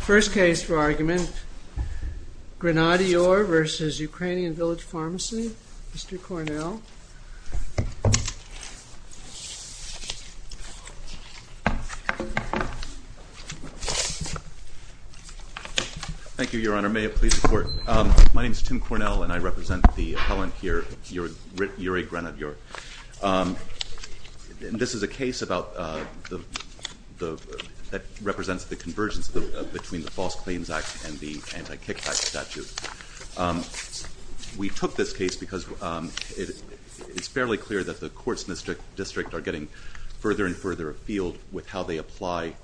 First case for argument, Grenadyor v. Ukrainian Village Pharmacy. Mr. Cornell. Thank you, Your Honor. May it please the Court. My name is Tim Cornell and I represent the appellant here, Yuri Grenadyor. This is a case about the, that represents the convergence between the False Claims Act and the Anti-Kickback Statute. We took this case because it's fairly clear that the courts in this district are getting further and further afield with how they apply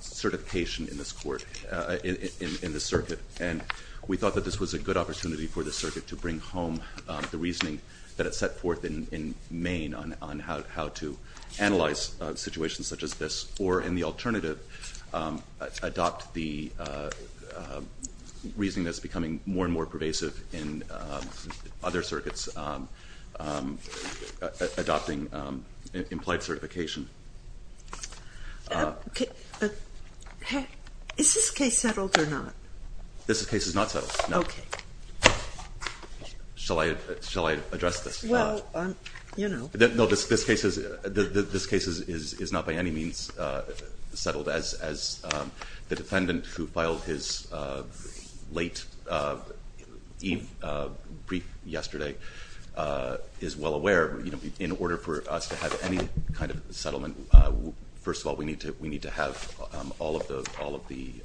certification in this court, in the circuit, and we thought that this was a good opportunity for the circuit to bring home the reasoning that in Maine on how to analyze situations such as this, or in the alternative, adopt the reasoning that's becoming more and more pervasive in other circuits adopting implied certification. Is this case settled or not? This case is not by any means settled, as the defendant, who filed his late brief yesterday, is well aware. In order for us to have any kind of settlement, first of all, we need to have all of the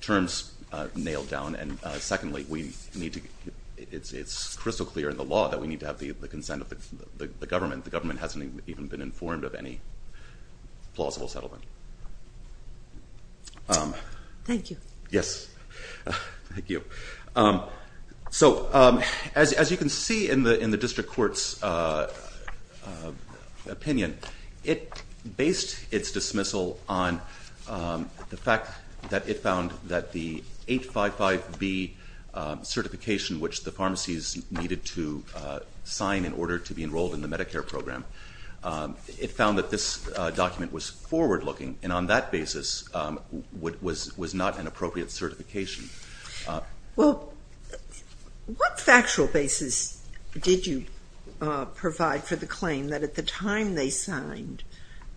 terms nailed down, and secondly, we need to, it's the consent of the government. The government hasn't even been informed of any plausible settlement. Thank you. Yes, thank you. So, as you can see in the in the district courts opinion, it based its dismissal on the fact that it found that the 855B certification, which the pharmacies needed to sign in order to be enrolled in the Medicare program, it found that this document was forward looking, and on that basis, was not an appropriate certification. Well, what factual basis did you provide for the claim that at the time they signed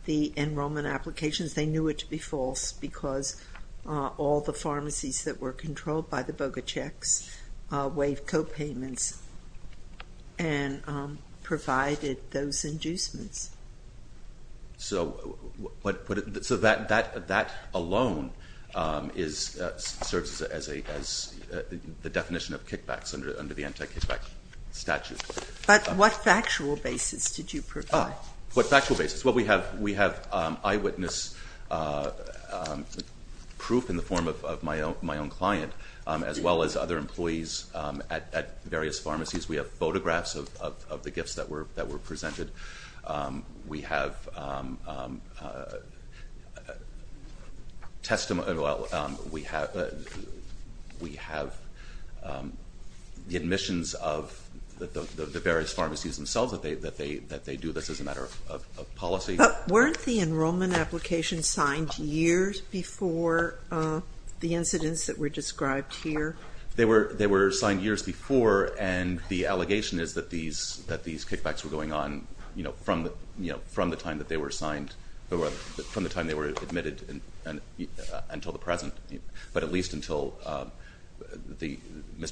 the pharmacies that were controlled by the BOGA checks waived copayments and provided those inducements? So, that alone serves as the definition of kickbacks under the anti-kickback statute. But what factual basis did you provide? What factual basis? Well, we have eyewitness proof in the form of my own client, as well as other employees at various pharmacies. We have photographs of the gifts that were presented. We have testimony, well, we have the admissions of the various pharmacies themselves that they do this as a matter of policy. But weren't the enrollment applications signed years before the incidents that were described here? They were signed years before, and the allegation is that these kickbacks were going on, you know, from the time that they were signed, from the time they were admitted and until the The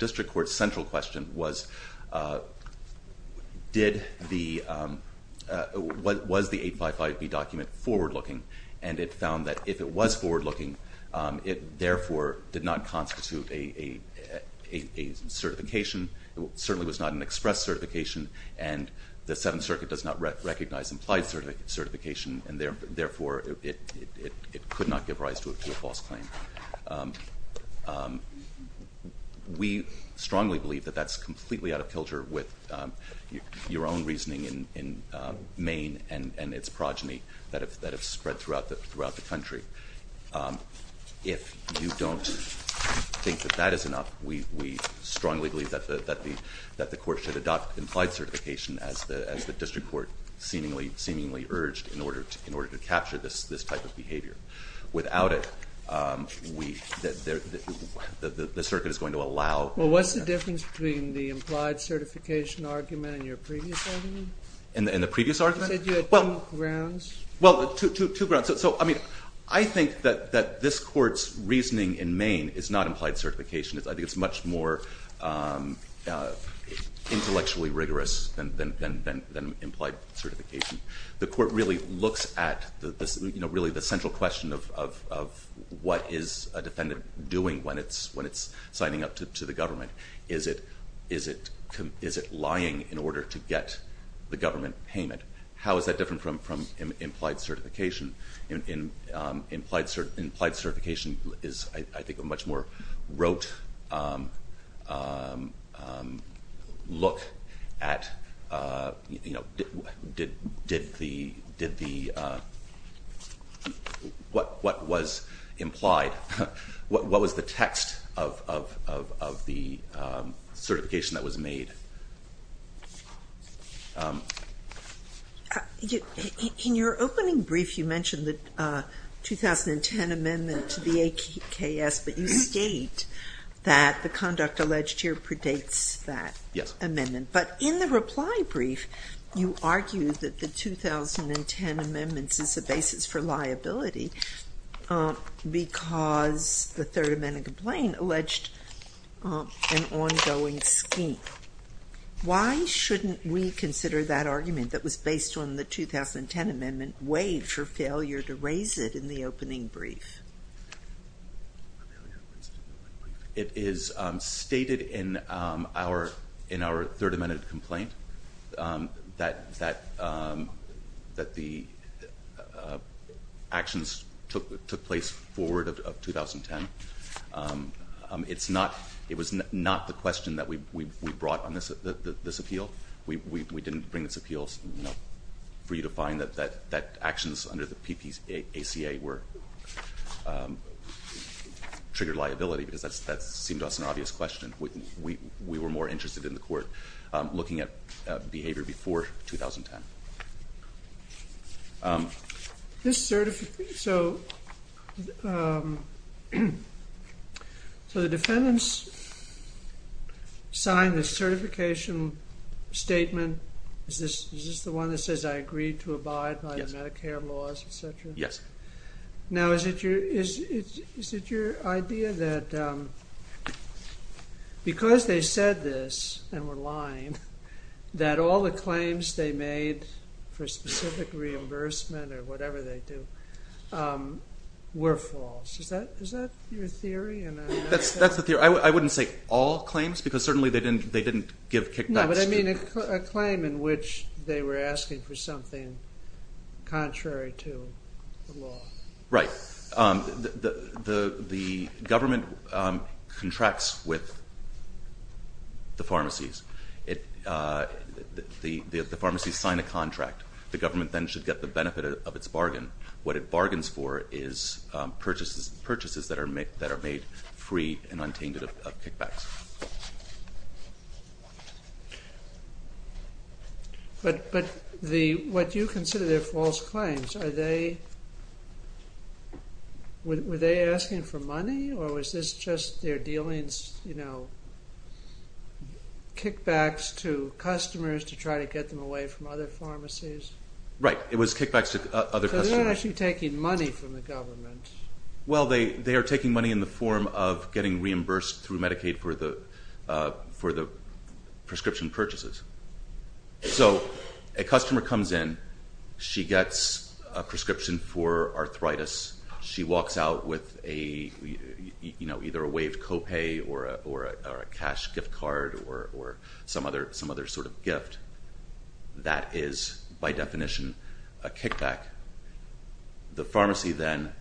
District Court's central question was, was the 855B document forward-looking? And it found that if it was forward-looking, it therefore did not constitute a certification. It certainly was not an express certification, and the Seventh Circuit does not recognize implied certification, and therefore it could not give rise to a false claim. We strongly believe that that's completely out of kilter with your own reasoning in Maine and its progeny that have spread throughout the country. If you don't think that that is enough, we strongly believe that the court should adopt implied certification as the District Court seemingly urged in order to capture this type of behavior. Without it, the Circuit is going to allow... Well, what's the difference between the implied certification argument in your previous argument? In the previous argument? You said you had two grounds? Well, two grounds. So, I mean, I think that this Court's reasoning in Maine is not implied certification. I think it's much more intellectually rigorous than implied certification. The question of what is a defendant doing when it's signing up to the government, is it lying in order to get the government payment? How is that different from implied certification? Implied what was implied? What was the text of the certification that was made? In your opening brief, you mentioned the 2010 amendment to the AKS, but you state that the conduct alleged here predates that amendment. But in the reply brief, you stated that the 2010 amendments is a basis for liability because the Third Amendment complaint alleged an ongoing scheme. Why shouldn't we consider that argument that was based on the 2010 amendment waived for failure to raise it in the opening brief? It is stated in our Third Amendment complaint that the actions took place forward of 2010. It was not the question that we brought on this appeal. We didn't bring this appeal for you to find that actions under the PPACA were triggered liability because that seemed to us an obvious question. We were more interested in the question. So the defendants signed the certification statement. Is this the one that says I agreed to abide by the Medicare laws, etc.? Yes. Now is it your idea that because they said this and were lying, that all the claims made for specific reimbursement or whatever they do were false? Is that your theory? That's the theory. I wouldn't say all claims because certainly they didn't give kickbacks. No, but I mean a claim in which they were asking for something contrary to the law. Right. The government contracts with the pharmacies. The pharmacies sign a contract. The government then should get the benefit of its bargain. What it bargains for is purchases that are made free and untainted of kickbacks. But what you consider their false claims, were they asking for money or was this just their dealings, you know, kickbacks to customers to try to get them away from other pharmacies? Right. It was kickbacks to other customers. So they're actually taking money from the government. Well, they are taking money in the form of getting reimbursed through Medicaid for the prescription purchases. So a customer comes in, she gets a prescription for arthritis, she walks out with a, you know, either a waived copay or a cash gift card or some other sort of gift. That is by definition a kickback. The pharmacy then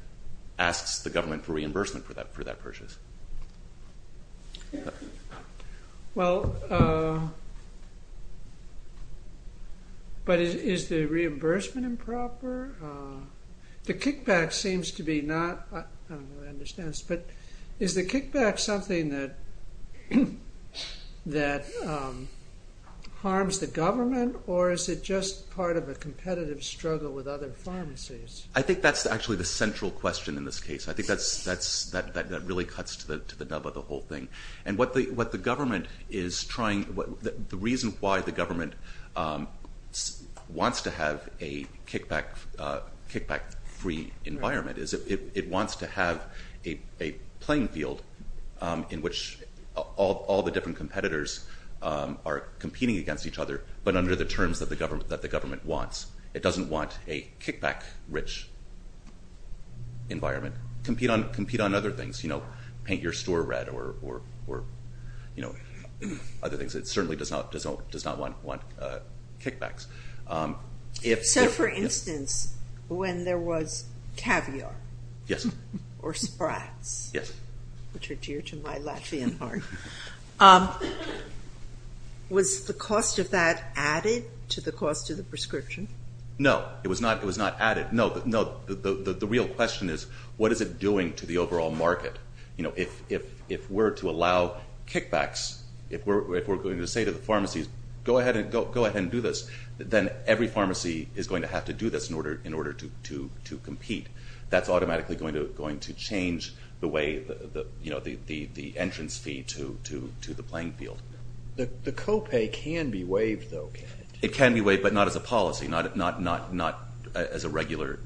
asks the government for reimbursement for that purchase. Well, but is the reimbursement improper? The kickback seems to be not, I don't know if understands, but is the kickback something that harms the government or is it just part of a competitive struggle with other pharmacies? I think that's actually the central question in this case. I think that's that really cuts to the nub of the whole thing. And what the government is trying, the reason why the government wants to have a kickback-free environment is it wants to have a playing field in which all the different competitors are competing against each other, but under the terms that the government wants. It doesn't want a compete on other things, you know, paint your store red or, you know, other things. It certainly does not want kickbacks. So, for instance, when there was caviar or Sprats, which are dear to my Latvian heart, was the cost of that added to the cost of the prescription? No, it was not added. The real question is what is it doing to the overall market? You know, if we're to allow kickbacks, if we're going to say to the pharmacies, go ahead and go ahead and do this, then every pharmacy is going to have to do this in order to compete. That's automatically going to change the way the entrance fee to the playing field. The copay can be waived, though. It can be waived, but not as a policy, not as a regular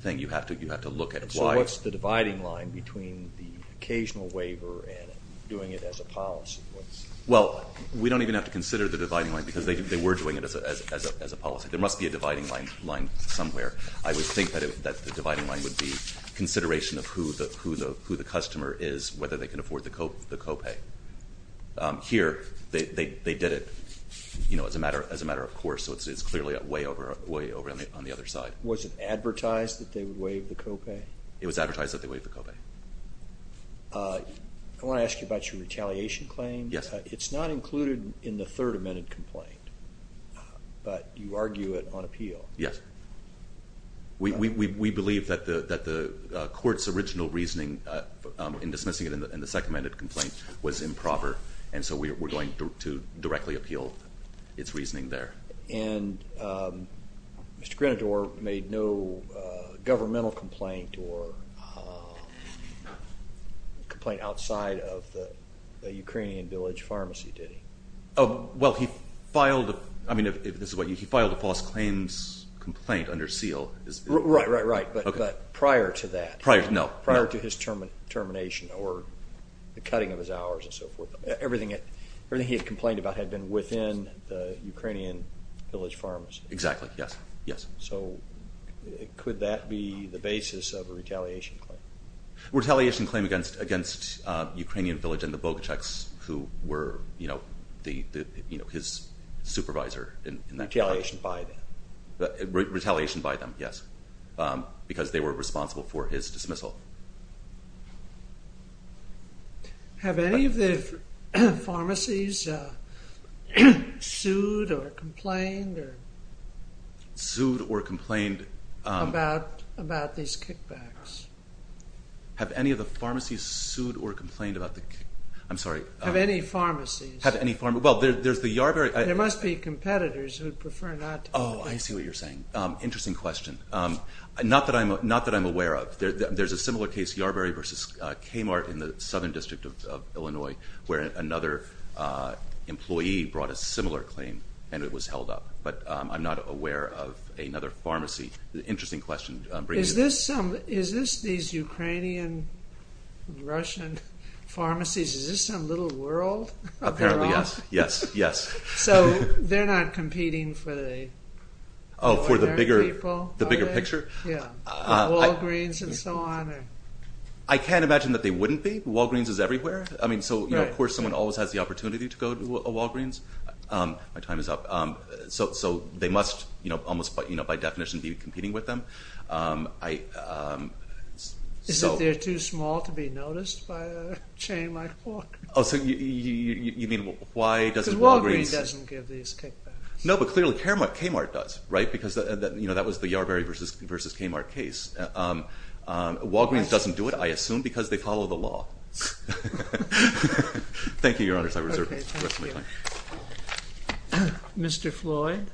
thing. You have to look at why. So what's the dividing line between the occasional waiver and doing it as a policy? Well, we don't even have to consider the dividing line because they were doing it as a policy. There must be a dividing line somewhere. I would think that the dividing line would be consideration of who the customer is, whether they can afford the copay. Here, they did it, you know, as a matter of course, so it's clearly way over on the other side. Was it advertised that they would waive the copay? It was advertised that they would waive the copay. I want to ask you about your retaliation claim. Yes. It's not included in the Third Amendment complaint, but you argue it on appeal. Yes. We believe that the court's original reasoning in dismissing it in the Second Amendment complaint was improper, and so we're going to directly appeal its reasoning there. And Mr. Grenador made no governmental complaint or complaint outside of the Ukrainian village pharmacy, did he? Oh, well, he filed a false claims complaint under seal. Right, right, right, but prior to that, prior to his termination or the cutting of his hours and so forth, everything he had complained about had been within the Ukrainian village pharmacy. Exactly, yes, yes. So could that be the basis of a retaliation claim? Retaliation claim against Ukrainian village and the Bogachevs, who were, you know, his supervisor. Retaliation by them. Retaliation by them, yes, because they were responsible for his dismissal. Have any of the pharmacies sued or complained? Sued or complained about these kickbacks? Have any of the pharmacies sued or complained about the kickbacks? I'm sorry. Have any pharmacies? Have any pharmacies? Well, there's the Yarberry. There must be I see what you're saying. Interesting question. Not that I'm not that I'm aware of. There's a similar case, Yarberry versus Kmart in the Southern District of Illinois, where another employee brought a similar claim and it was held up, but I'm not aware of another pharmacy. Interesting question. Is this some, is this these Ukrainian-Russian pharmacies, is this some little world of their own? Apparently, yes, yes, yes. So they're not competing for the ordinary people, are they? Oh, for the bigger picture? Yeah, Walgreens and so on? I can't imagine that they wouldn't be. Walgreens is everywhere. I mean, so, you know, of course someone always has the opportunity to go to a Walgreens. My time is up. So they must, you know, almost, you know, by definition be competing with them. Is it they're too You mean, why doesn't Walgreens? Walgreens doesn't give these kickbacks. No, but clearly Kmart does, right? Because, you know, that was the Yarberry versus Kmart case. Walgreens doesn't do it, I assume, because they follow the law. Thank you, Your Honors. I reserve the rest of my time. Mr. Floyd.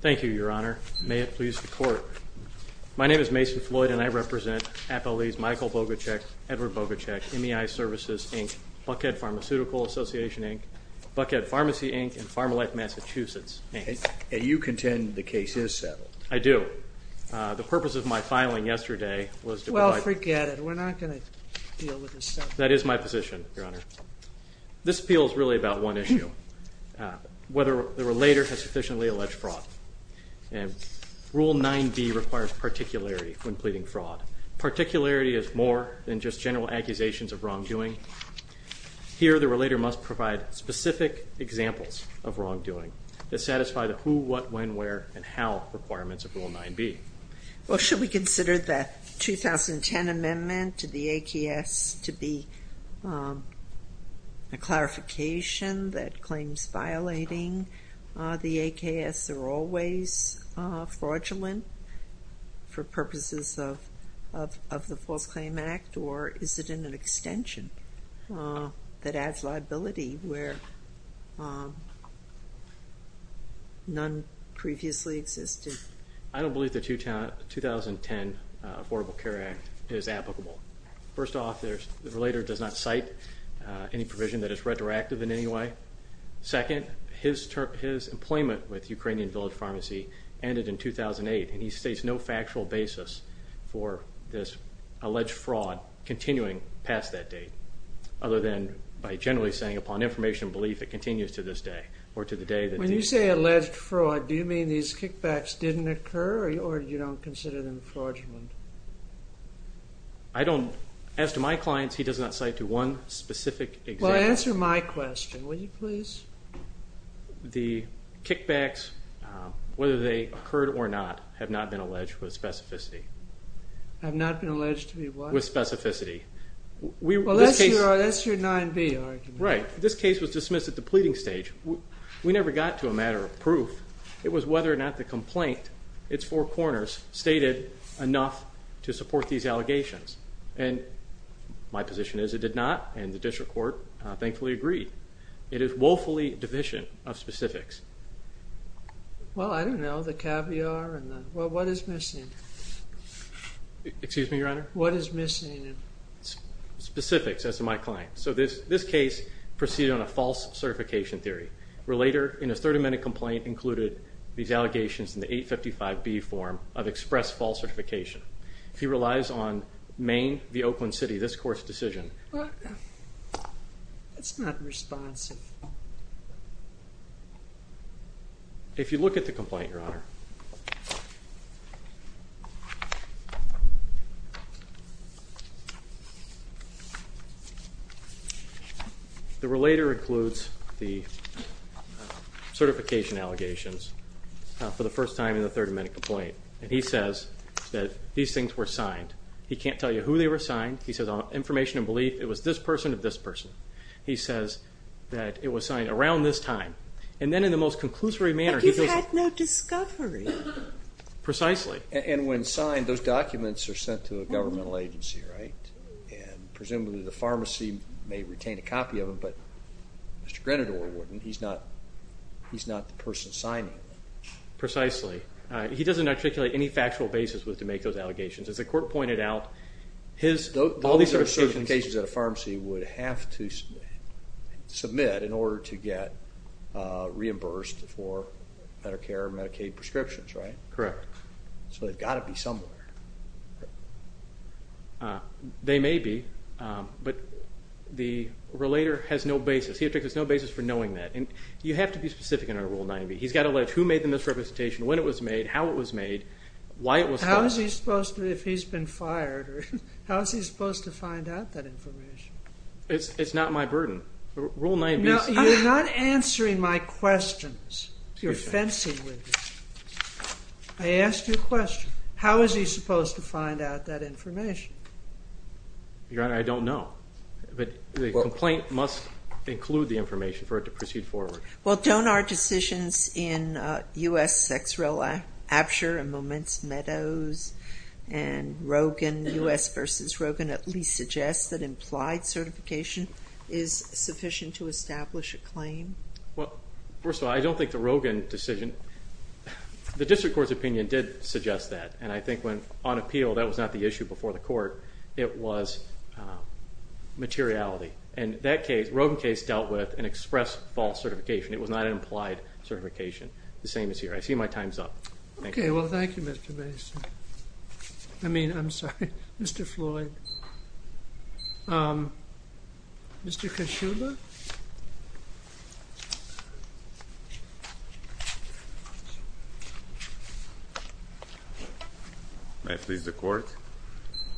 Thank you, Your Honor. May it please the Court. My name is Mason Floyd and I represent Appellee's Michael Bogachek, Edward Bogachek, MEI Services, Inc., Buckhead Pharmaceutical Association, Inc., Buckhead Pharmacy, Inc., and PharmaLife Massachusetts, Inc. And you contend the case is settled? I do. The purpose of my That is my position, Your Honor. This appeal is really about one issue, whether the relator has sufficiently alleged fraud. And Rule 9b requires particularity when pleading fraud. Particularity is more than just general accusations of wrongdoing. Here the relator must provide specific examples of wrongdoing that satisfy the who, what, when, where, and how requirements of Rule 9b. Well, should we consider the 2010 amendment to the AKS to be a clarification that claims violating the AKS are always fraudulent for purposes of the False Claim Act, or is it an extension that adds liability where none previously existed? I don't believe the 2010 Affordable Care Act is applicable. First off, the relator does not cite any provision that is retroactive in any way. Second, his employment with Ukrainian Village Pharmacy ended in 2008, and he states no factual basis for this alleged fraud continuing past that date, other than by generally saying upon information belief it continues to this day. When you say alleged fraud, do you mean these kickbacks didn't occur, or you don't consider them fraudulent? As to my clients, he does not cite one specific example. Well, answer my question, will you please? The kickbacks, whether they occurred or not, have not been alleged with specificity. Have not been alleged to be what? With specificity. Well, that's your 9b argument. Right. This case was dismissed at the pleading stage. We never got to a matter of proof. It was whether or not the complaint, its four corners, stated enough to support these allegations. And my position is it did not, and the district court thankfully agreed. It is woefully division of specifics. Well, I don't know, the caviar, and the, well, what is missing? Excuse me, Your Honor? What is missing? Specifics, as to my client. So this case proceeded on a false certification theory, where later, in a 30-minute complaint, included these allegations in the 855B form of express false certification. He relies on Maine v. Oakland City, this court's decision. That's not responsive. If you look at the complaint, Your Honor, the relator includes the certification allegations for the first time in the 30-minute complaint, and he says that these things were signed. He can't tell you who they were signed. He says, on information and belief, it was this person of this person. He says that it was signed around this time, and then in the most conclusory manner... But you had no discovery. Precisely. And when signed, those were not signed. And presumably the pharmacy may retain a copy of them, but Mr. Grenador wouldn't. He's not the person signing them. Precisely. He doesn't articulate any factual basis with to make those allegations. As the court pointed out, his... Those are certifications that a pharmacy would have to submit in order to get reimbursed for Medicare and Medicaid prescriptions, right? Correct. So they've got to be somewhere. They may be, but the relator has no basis. He has no basis for knowing that, and you have to be specific in our Rule 90. He's got to allege who made them, this representation, when it was made, how it was made, why it was filed. How is he supposed to, if he's been fired, how is he supposed to find out that information? It's not my burden. Rule 90... No, you're not answering my questions. You're fencing with me. I asked you a question. How is he supposed to find out that information? Your Honor, I don't know, but the complaint must include the information for it to proceed forward. Well, don't our decisions in U.S. Sex, Rel, Abture, and Moments, Meadows, and Rogen, U.S. versus Rogen, at least suggest that implied certification is sufficient to establish a claim? Well, first of all, I don't think the Rogen decision... The District Court's opinion did suggest that, and I think when, on appeal, that was not the issue before the Court. It was materiality, and that case, Rogen case, dealt with an express false certification. It was not an implied certification. The same is here. I see my time's up. Okay, well, thank you, Mr. Mason. I mean, I'm sorry, Mr. Floyd. Mr. Kashuba? May I please the Court?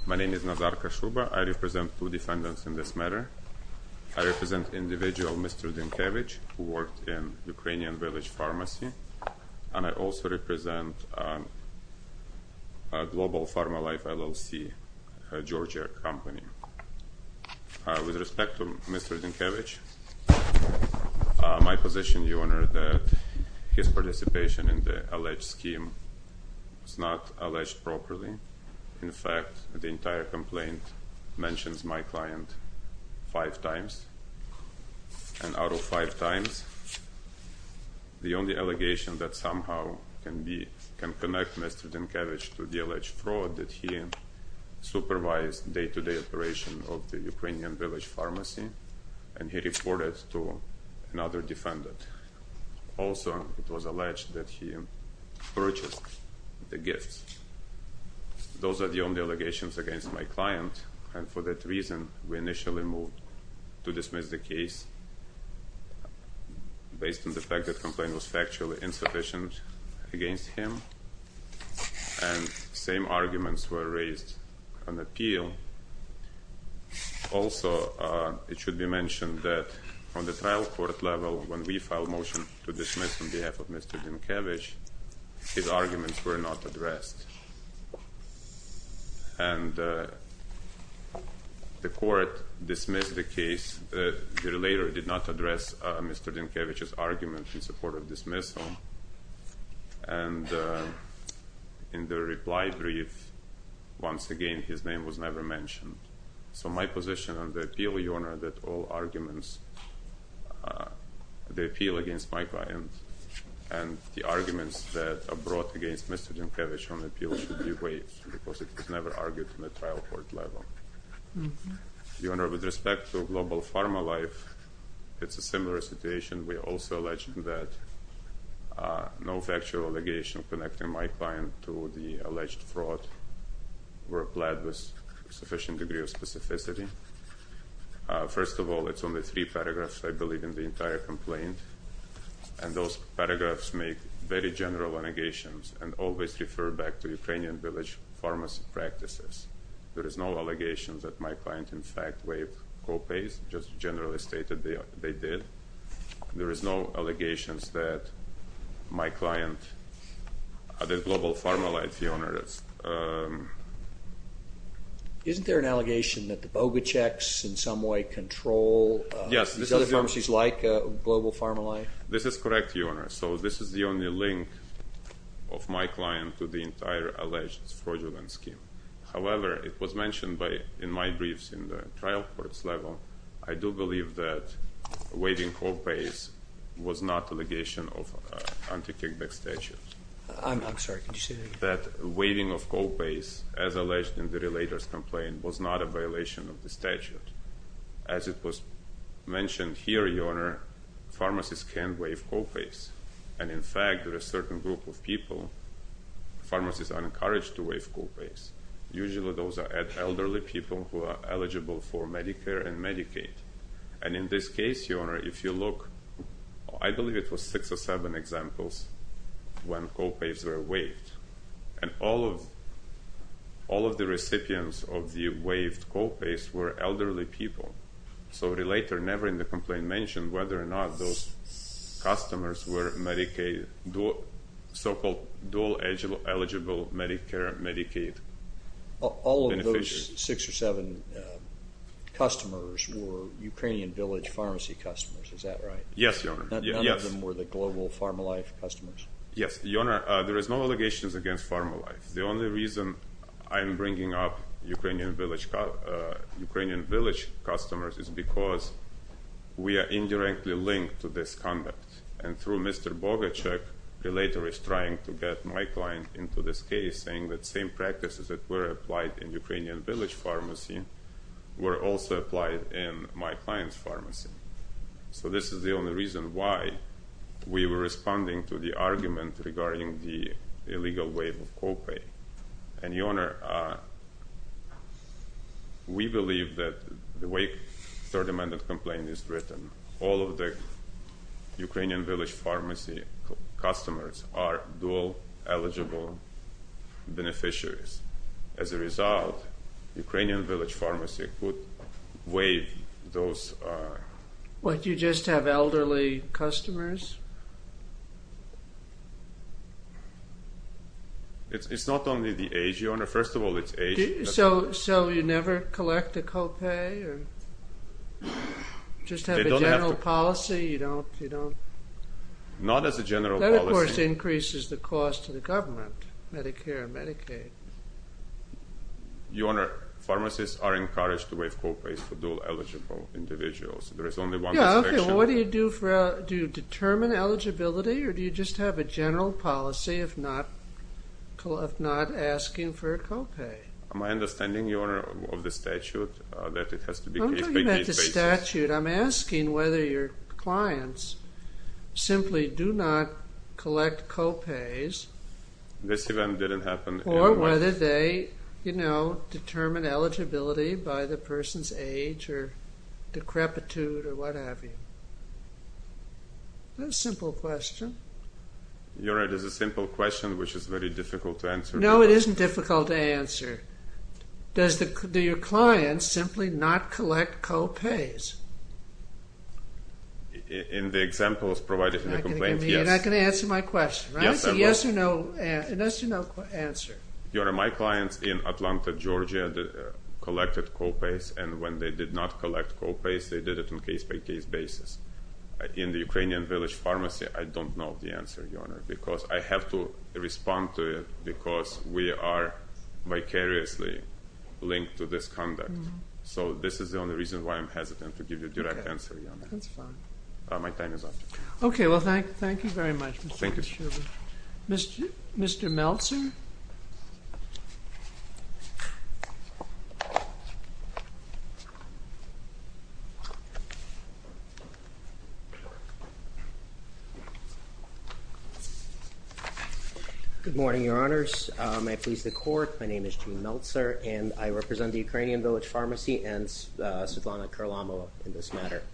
My name is Nazar Kashuba. I represent two defendants in this matter. I represent individual Mr. Dinkavich, who worked in Ukrainian Village Pharmacy, and I also represent Global Pharma Life LLC, a Georgia company. With respect to Mr. Dinkavich, my position, Your Honor, that his participation in the alleged scheme was not alleged properly. In fact, the entire the only allegation that somehow can be... Can connect Mr. Dinkavich to the alleged fraud that he supervised day-to-day operation of the Ukrainian Village Pharmacy, and he reported to another defendant. Also, it was alleged that he purchased the gifts. Those are the only allegations against my client, and for that reason, we initially moved to dismiss the case based on the fact that the complaint was factually insufficient against him, and same arguments were raised on appeal. Also, it should be mentioned that on the trial court level, when we filed motion to dismiss on behalf of Mr. Dinkavich, his arguments were not addressed, and the court dismissed the case. The relator did not report a dismissal, and in the reply brief, once again, his name was never mentioned. So my position on the appeal, Your Honor, that all arguments... The appeal against my client and the arguments that are brought against Mr. Dinkavich on appeal should be weighed, because it was never argued on the trial court level. Your Honor, with respect to Global Pharma Life, it's a similar situation. We also alleged that no factual allegations connecting my client to the alleged fraud were applied with sufficient degree of specificity. First of all, it's only three paragraphs, I believe, in the entire complaint, and those paragraphs make very general allegations and always refer back to Ukrainian Village Pharmacy practices. There is no allegation that my client, in the case that they did, there is no allegations that my client, the Global Pharma Life, Your Honor, is... Isn't there an allegation that the BOGA checks in some way control these other pharmacies like Global Pharma Life? This is correct, Your Honor. So this is the only link of my client to the entire alleged fraudulent scheme. However, it was mentioned in my briefs in the trial court level. I do believe that waiving co-pays was not an allegation of anti-kickback statute. I'm sorry, can you say that again? That waiving of co-pays, as alleged in the relator's complaint, was not a violation of the statute. As it was mentioned here, Your Honor, pharmacists can waive co-pays, and in fact, there is a certain group of people, pharmacists are encouraged to waive co-pays. Usually those are elderly people who are eligible for Medicare and Medicaid. And in this case, Your Honor, if you look, I believe it was six or seven examples when co-pays were waived. And all of the recipients of the waived co-pays were elderly people. So the relator, never in the complaint, mentioned whether or not those customers were so-called dual eligible Medicare and Medicaid beneficiaries. All of those six or seven customers were Ukrainian Village pharmacy customers, is that right? Yes, Your Honor. None of them were the global PharmaLife customers? Yes, Your Honor, there is no allegations against PharmaLife. The only reason I am bringing up Ukrainian Village customers is because we are indirectly linked to this conduct. And through Mr. Bogachev, the relator is trying to get my client into this case, saying that same practices that were applied in Ukrainian Village pharmacy were also applied in my client's pharmacy. So this is the only reason why we were responding to the argument regarding the illegal waive of co-pay. And Your Honor, we believe that the way the Third Amendment complaint is written, all of the Ukrainian Village pharmacy customers are dual eligible beneficiaries. As a result, Ukrainian Village pharmacy would waive those... What, you just have elderly customers? It's not only the age, Your Honor. First of all, it's age. So you never collect a general policy? Not as a general policy. That, of course, increases the cost to the government, Medicare and Medicaid. Your Honor, pharmacists are encouraged to waive co-pays for dual eligible individuals. There is only one... What do you do for... Do you determine eligibility, or do you just have a general policy, if not asking for a co-pay? My understanding, Your Honor, of the statute, that it has to do with asking whether your clients simply do not collect co-pays. This event didn't happen. Or whether they, you know, determine eligibility by the person's age, or decrepitude, or what have you. A simple question. Your Honor, it is a simple question, which is very difficult to answer. No, it isn't difficult to answer. Does the... Do your clients simply not collect co-pays? In the examples provided in the complaint, yes. You're not going to answer my question, right? It's a yes or no answer. Your Honor, my clients in Atlanta, Georgia, collected co-pays, and when they did not collect co-pays, they did it on a case-by-case basis. In the Ukrainian Village Pharmacy, I don't know the answer, Your Honor, because I have to respond to it, because we are vicariously linked to this conduct. So this is the only reason why I'm hesitant to give you a direct answer, Your Honor. That's fine. My time is up. Okay, well, thank you very much. Thank you. Mr. Meltzer? Good morning, Your Honors. I please the Court. My name is Gene Meltzer, and I represent the Ukrainian Village Pharmacy and Svetlana Kurlamova in this matter.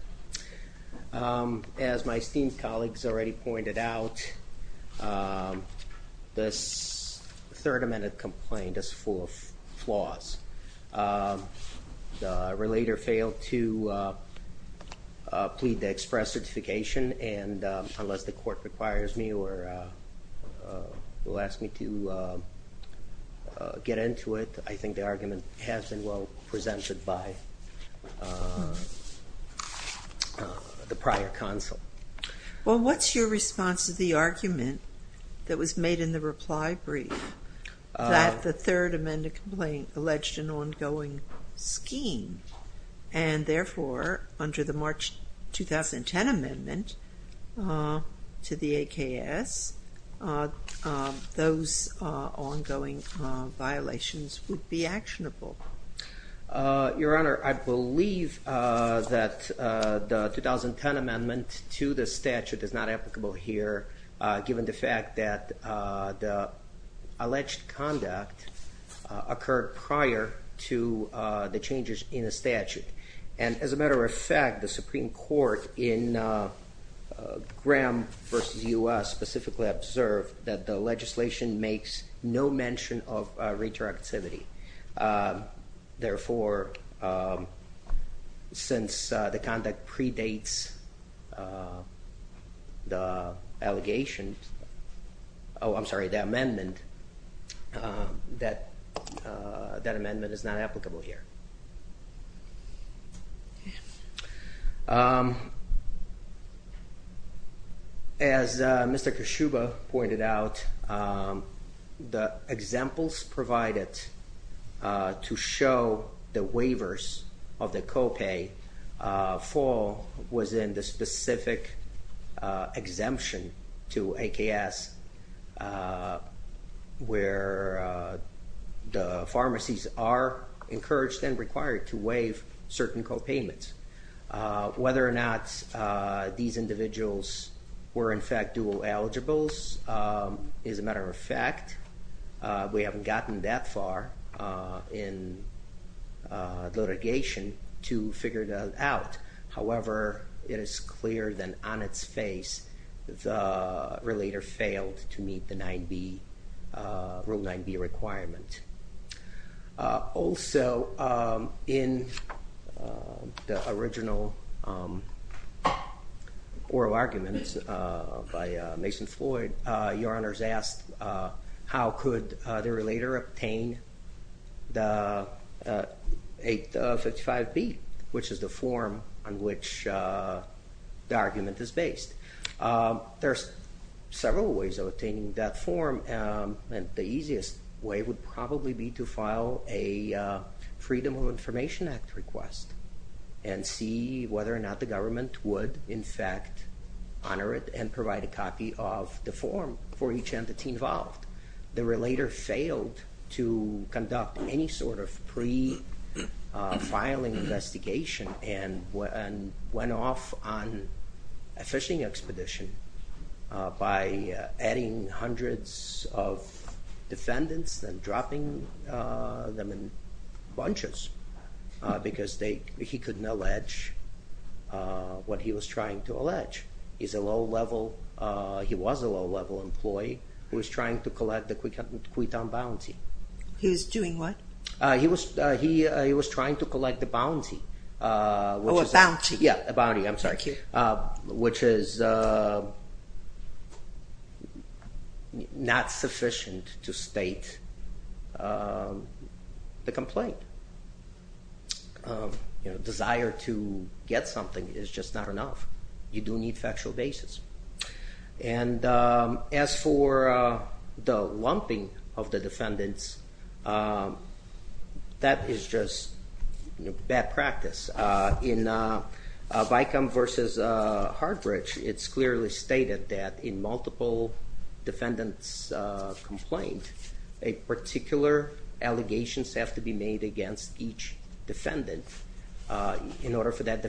As my esteemed third amendment complaint is full of flaws. The relator failed to plead the express certification, and unless the Court requires me or will ask me to get into it, I think the argument has been well presented by the prior counsel. Well, what's your response to the argument that was made in the reply brief that the third amendment complaint alleged an ongoing scheme, and therefore, under the March 2010 amendment to the AKS, those ongoing violations would be actionable? Your Honor, I believe that the 2010 amendment to the statute is not applicable here, given the fact that the alleged conduct occurred prior to the changes in the statute. And as a matter of fact, the Supreme Court in Graham versus U.S. specifically observed that the legislation makes no mention of therefore, since the conduct predates the allegations, oh, I'm sorry, the amendment, that that amendment is not applicable here. As Mr. Koshuba pointed out, the examples provided to show the waivers of the copay fall within the specific exemption to AKS, where the pharmacies are encouraged and required to waive certain copayments. Whether or not these individuals were in fact dual eligibles is a matter of fact. We haven't gotten that far in litigation to figure that out. However, it is clear that on its face, the relator failed to meet the Rule 9b requirement. Also, in the original oral arguments by Mason Floyd, Your Honor's asked how could the argument is based. There's several ways of obtaining that form and the easiest way would probably be to file a Freedom of Information Act request and see whether or not the government would in fact honor it and provide a copy of the form for each entity involved. The relator failed to conduct any sort of pre-filing investigation and went off on a fishing expedition by adding hundreds of defendants and dropping them in bunches because he couldn't allege what he was trying to allege. He's a low-level, he was a low-level employee who was trying to collect the Quinton bounty. He was doing what? He was trying to collect the bounty. Oh, a bounty. Yeah, a bounty, I'm sorry, which is not sufficient to state the complaint. You know, desire to get something is just not enough. You do the lumping of the defendants, that is just bad practice. In Vicom versus Heartbridge, it's clearly stated that in multiple defendants' complaint, a particular allegations have to be made against each defendant in order for that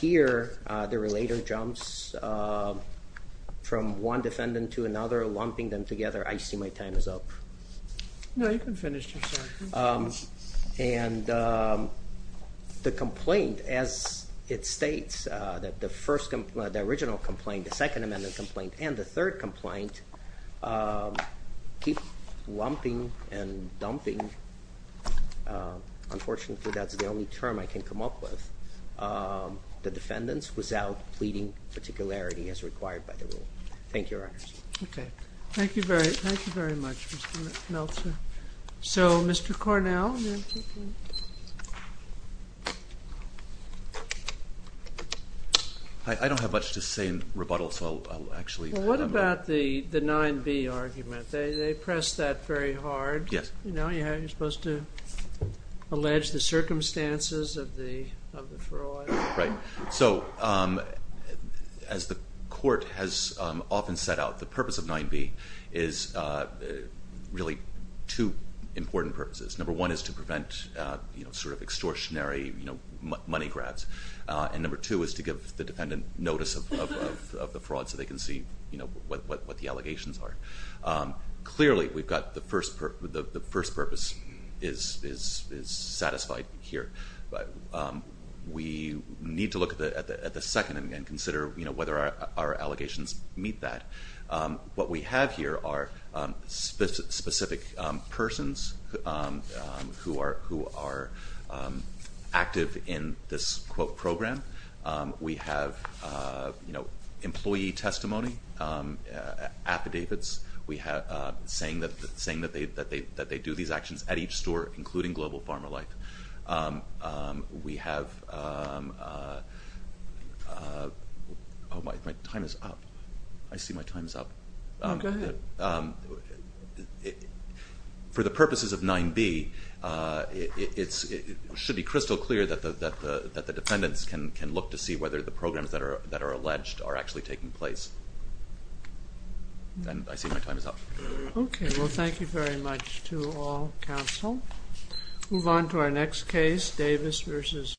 Here, the relator jumps from one defendant to another, lumping them together. I see my time is up. No, you can finish. And the complaint, as it states, that the first, the original complaint, the Second Amendment complaint, and the third complaint, keep lumping and dumping. Unfortunately, that's the only term I can come up with. The defendants without pleading particularity as required by the rule. Thank you, Your Honor. Okay, thank you very much, Mr. Meltzer. So, Mr. Cornell? I don't have much to say in rebuttal, so I'll actually... What about the 9b argument? They press that very hard. Yes. You know, you're supposed to allege the fraud. Right. So, as the court has often set out, the purpose of 9b is really two important purposes. Number one is to prevent, you know, sort of extortionary, you know, money grabs, and number two is to give the defendant notice of the fraud so they can see, you know, what the allegations are. Clearly, we've got the first purpose is satisfied here, but we need to look at the second and consider, you know, whether our allegations meet that. What we have here are specific persons who are active in this, quote, program. We have, you know, that they do these actions at each store, including Global Pharma Life. We have... Oh, my time is up. I see my time is up. Go ahead. For the purposes of 9b, it should be crystal clear that the defendants can look to see whether the programs that are alleged are actually taking place, and I thank you very much to all counsel. Move on to our next case, Davis versus...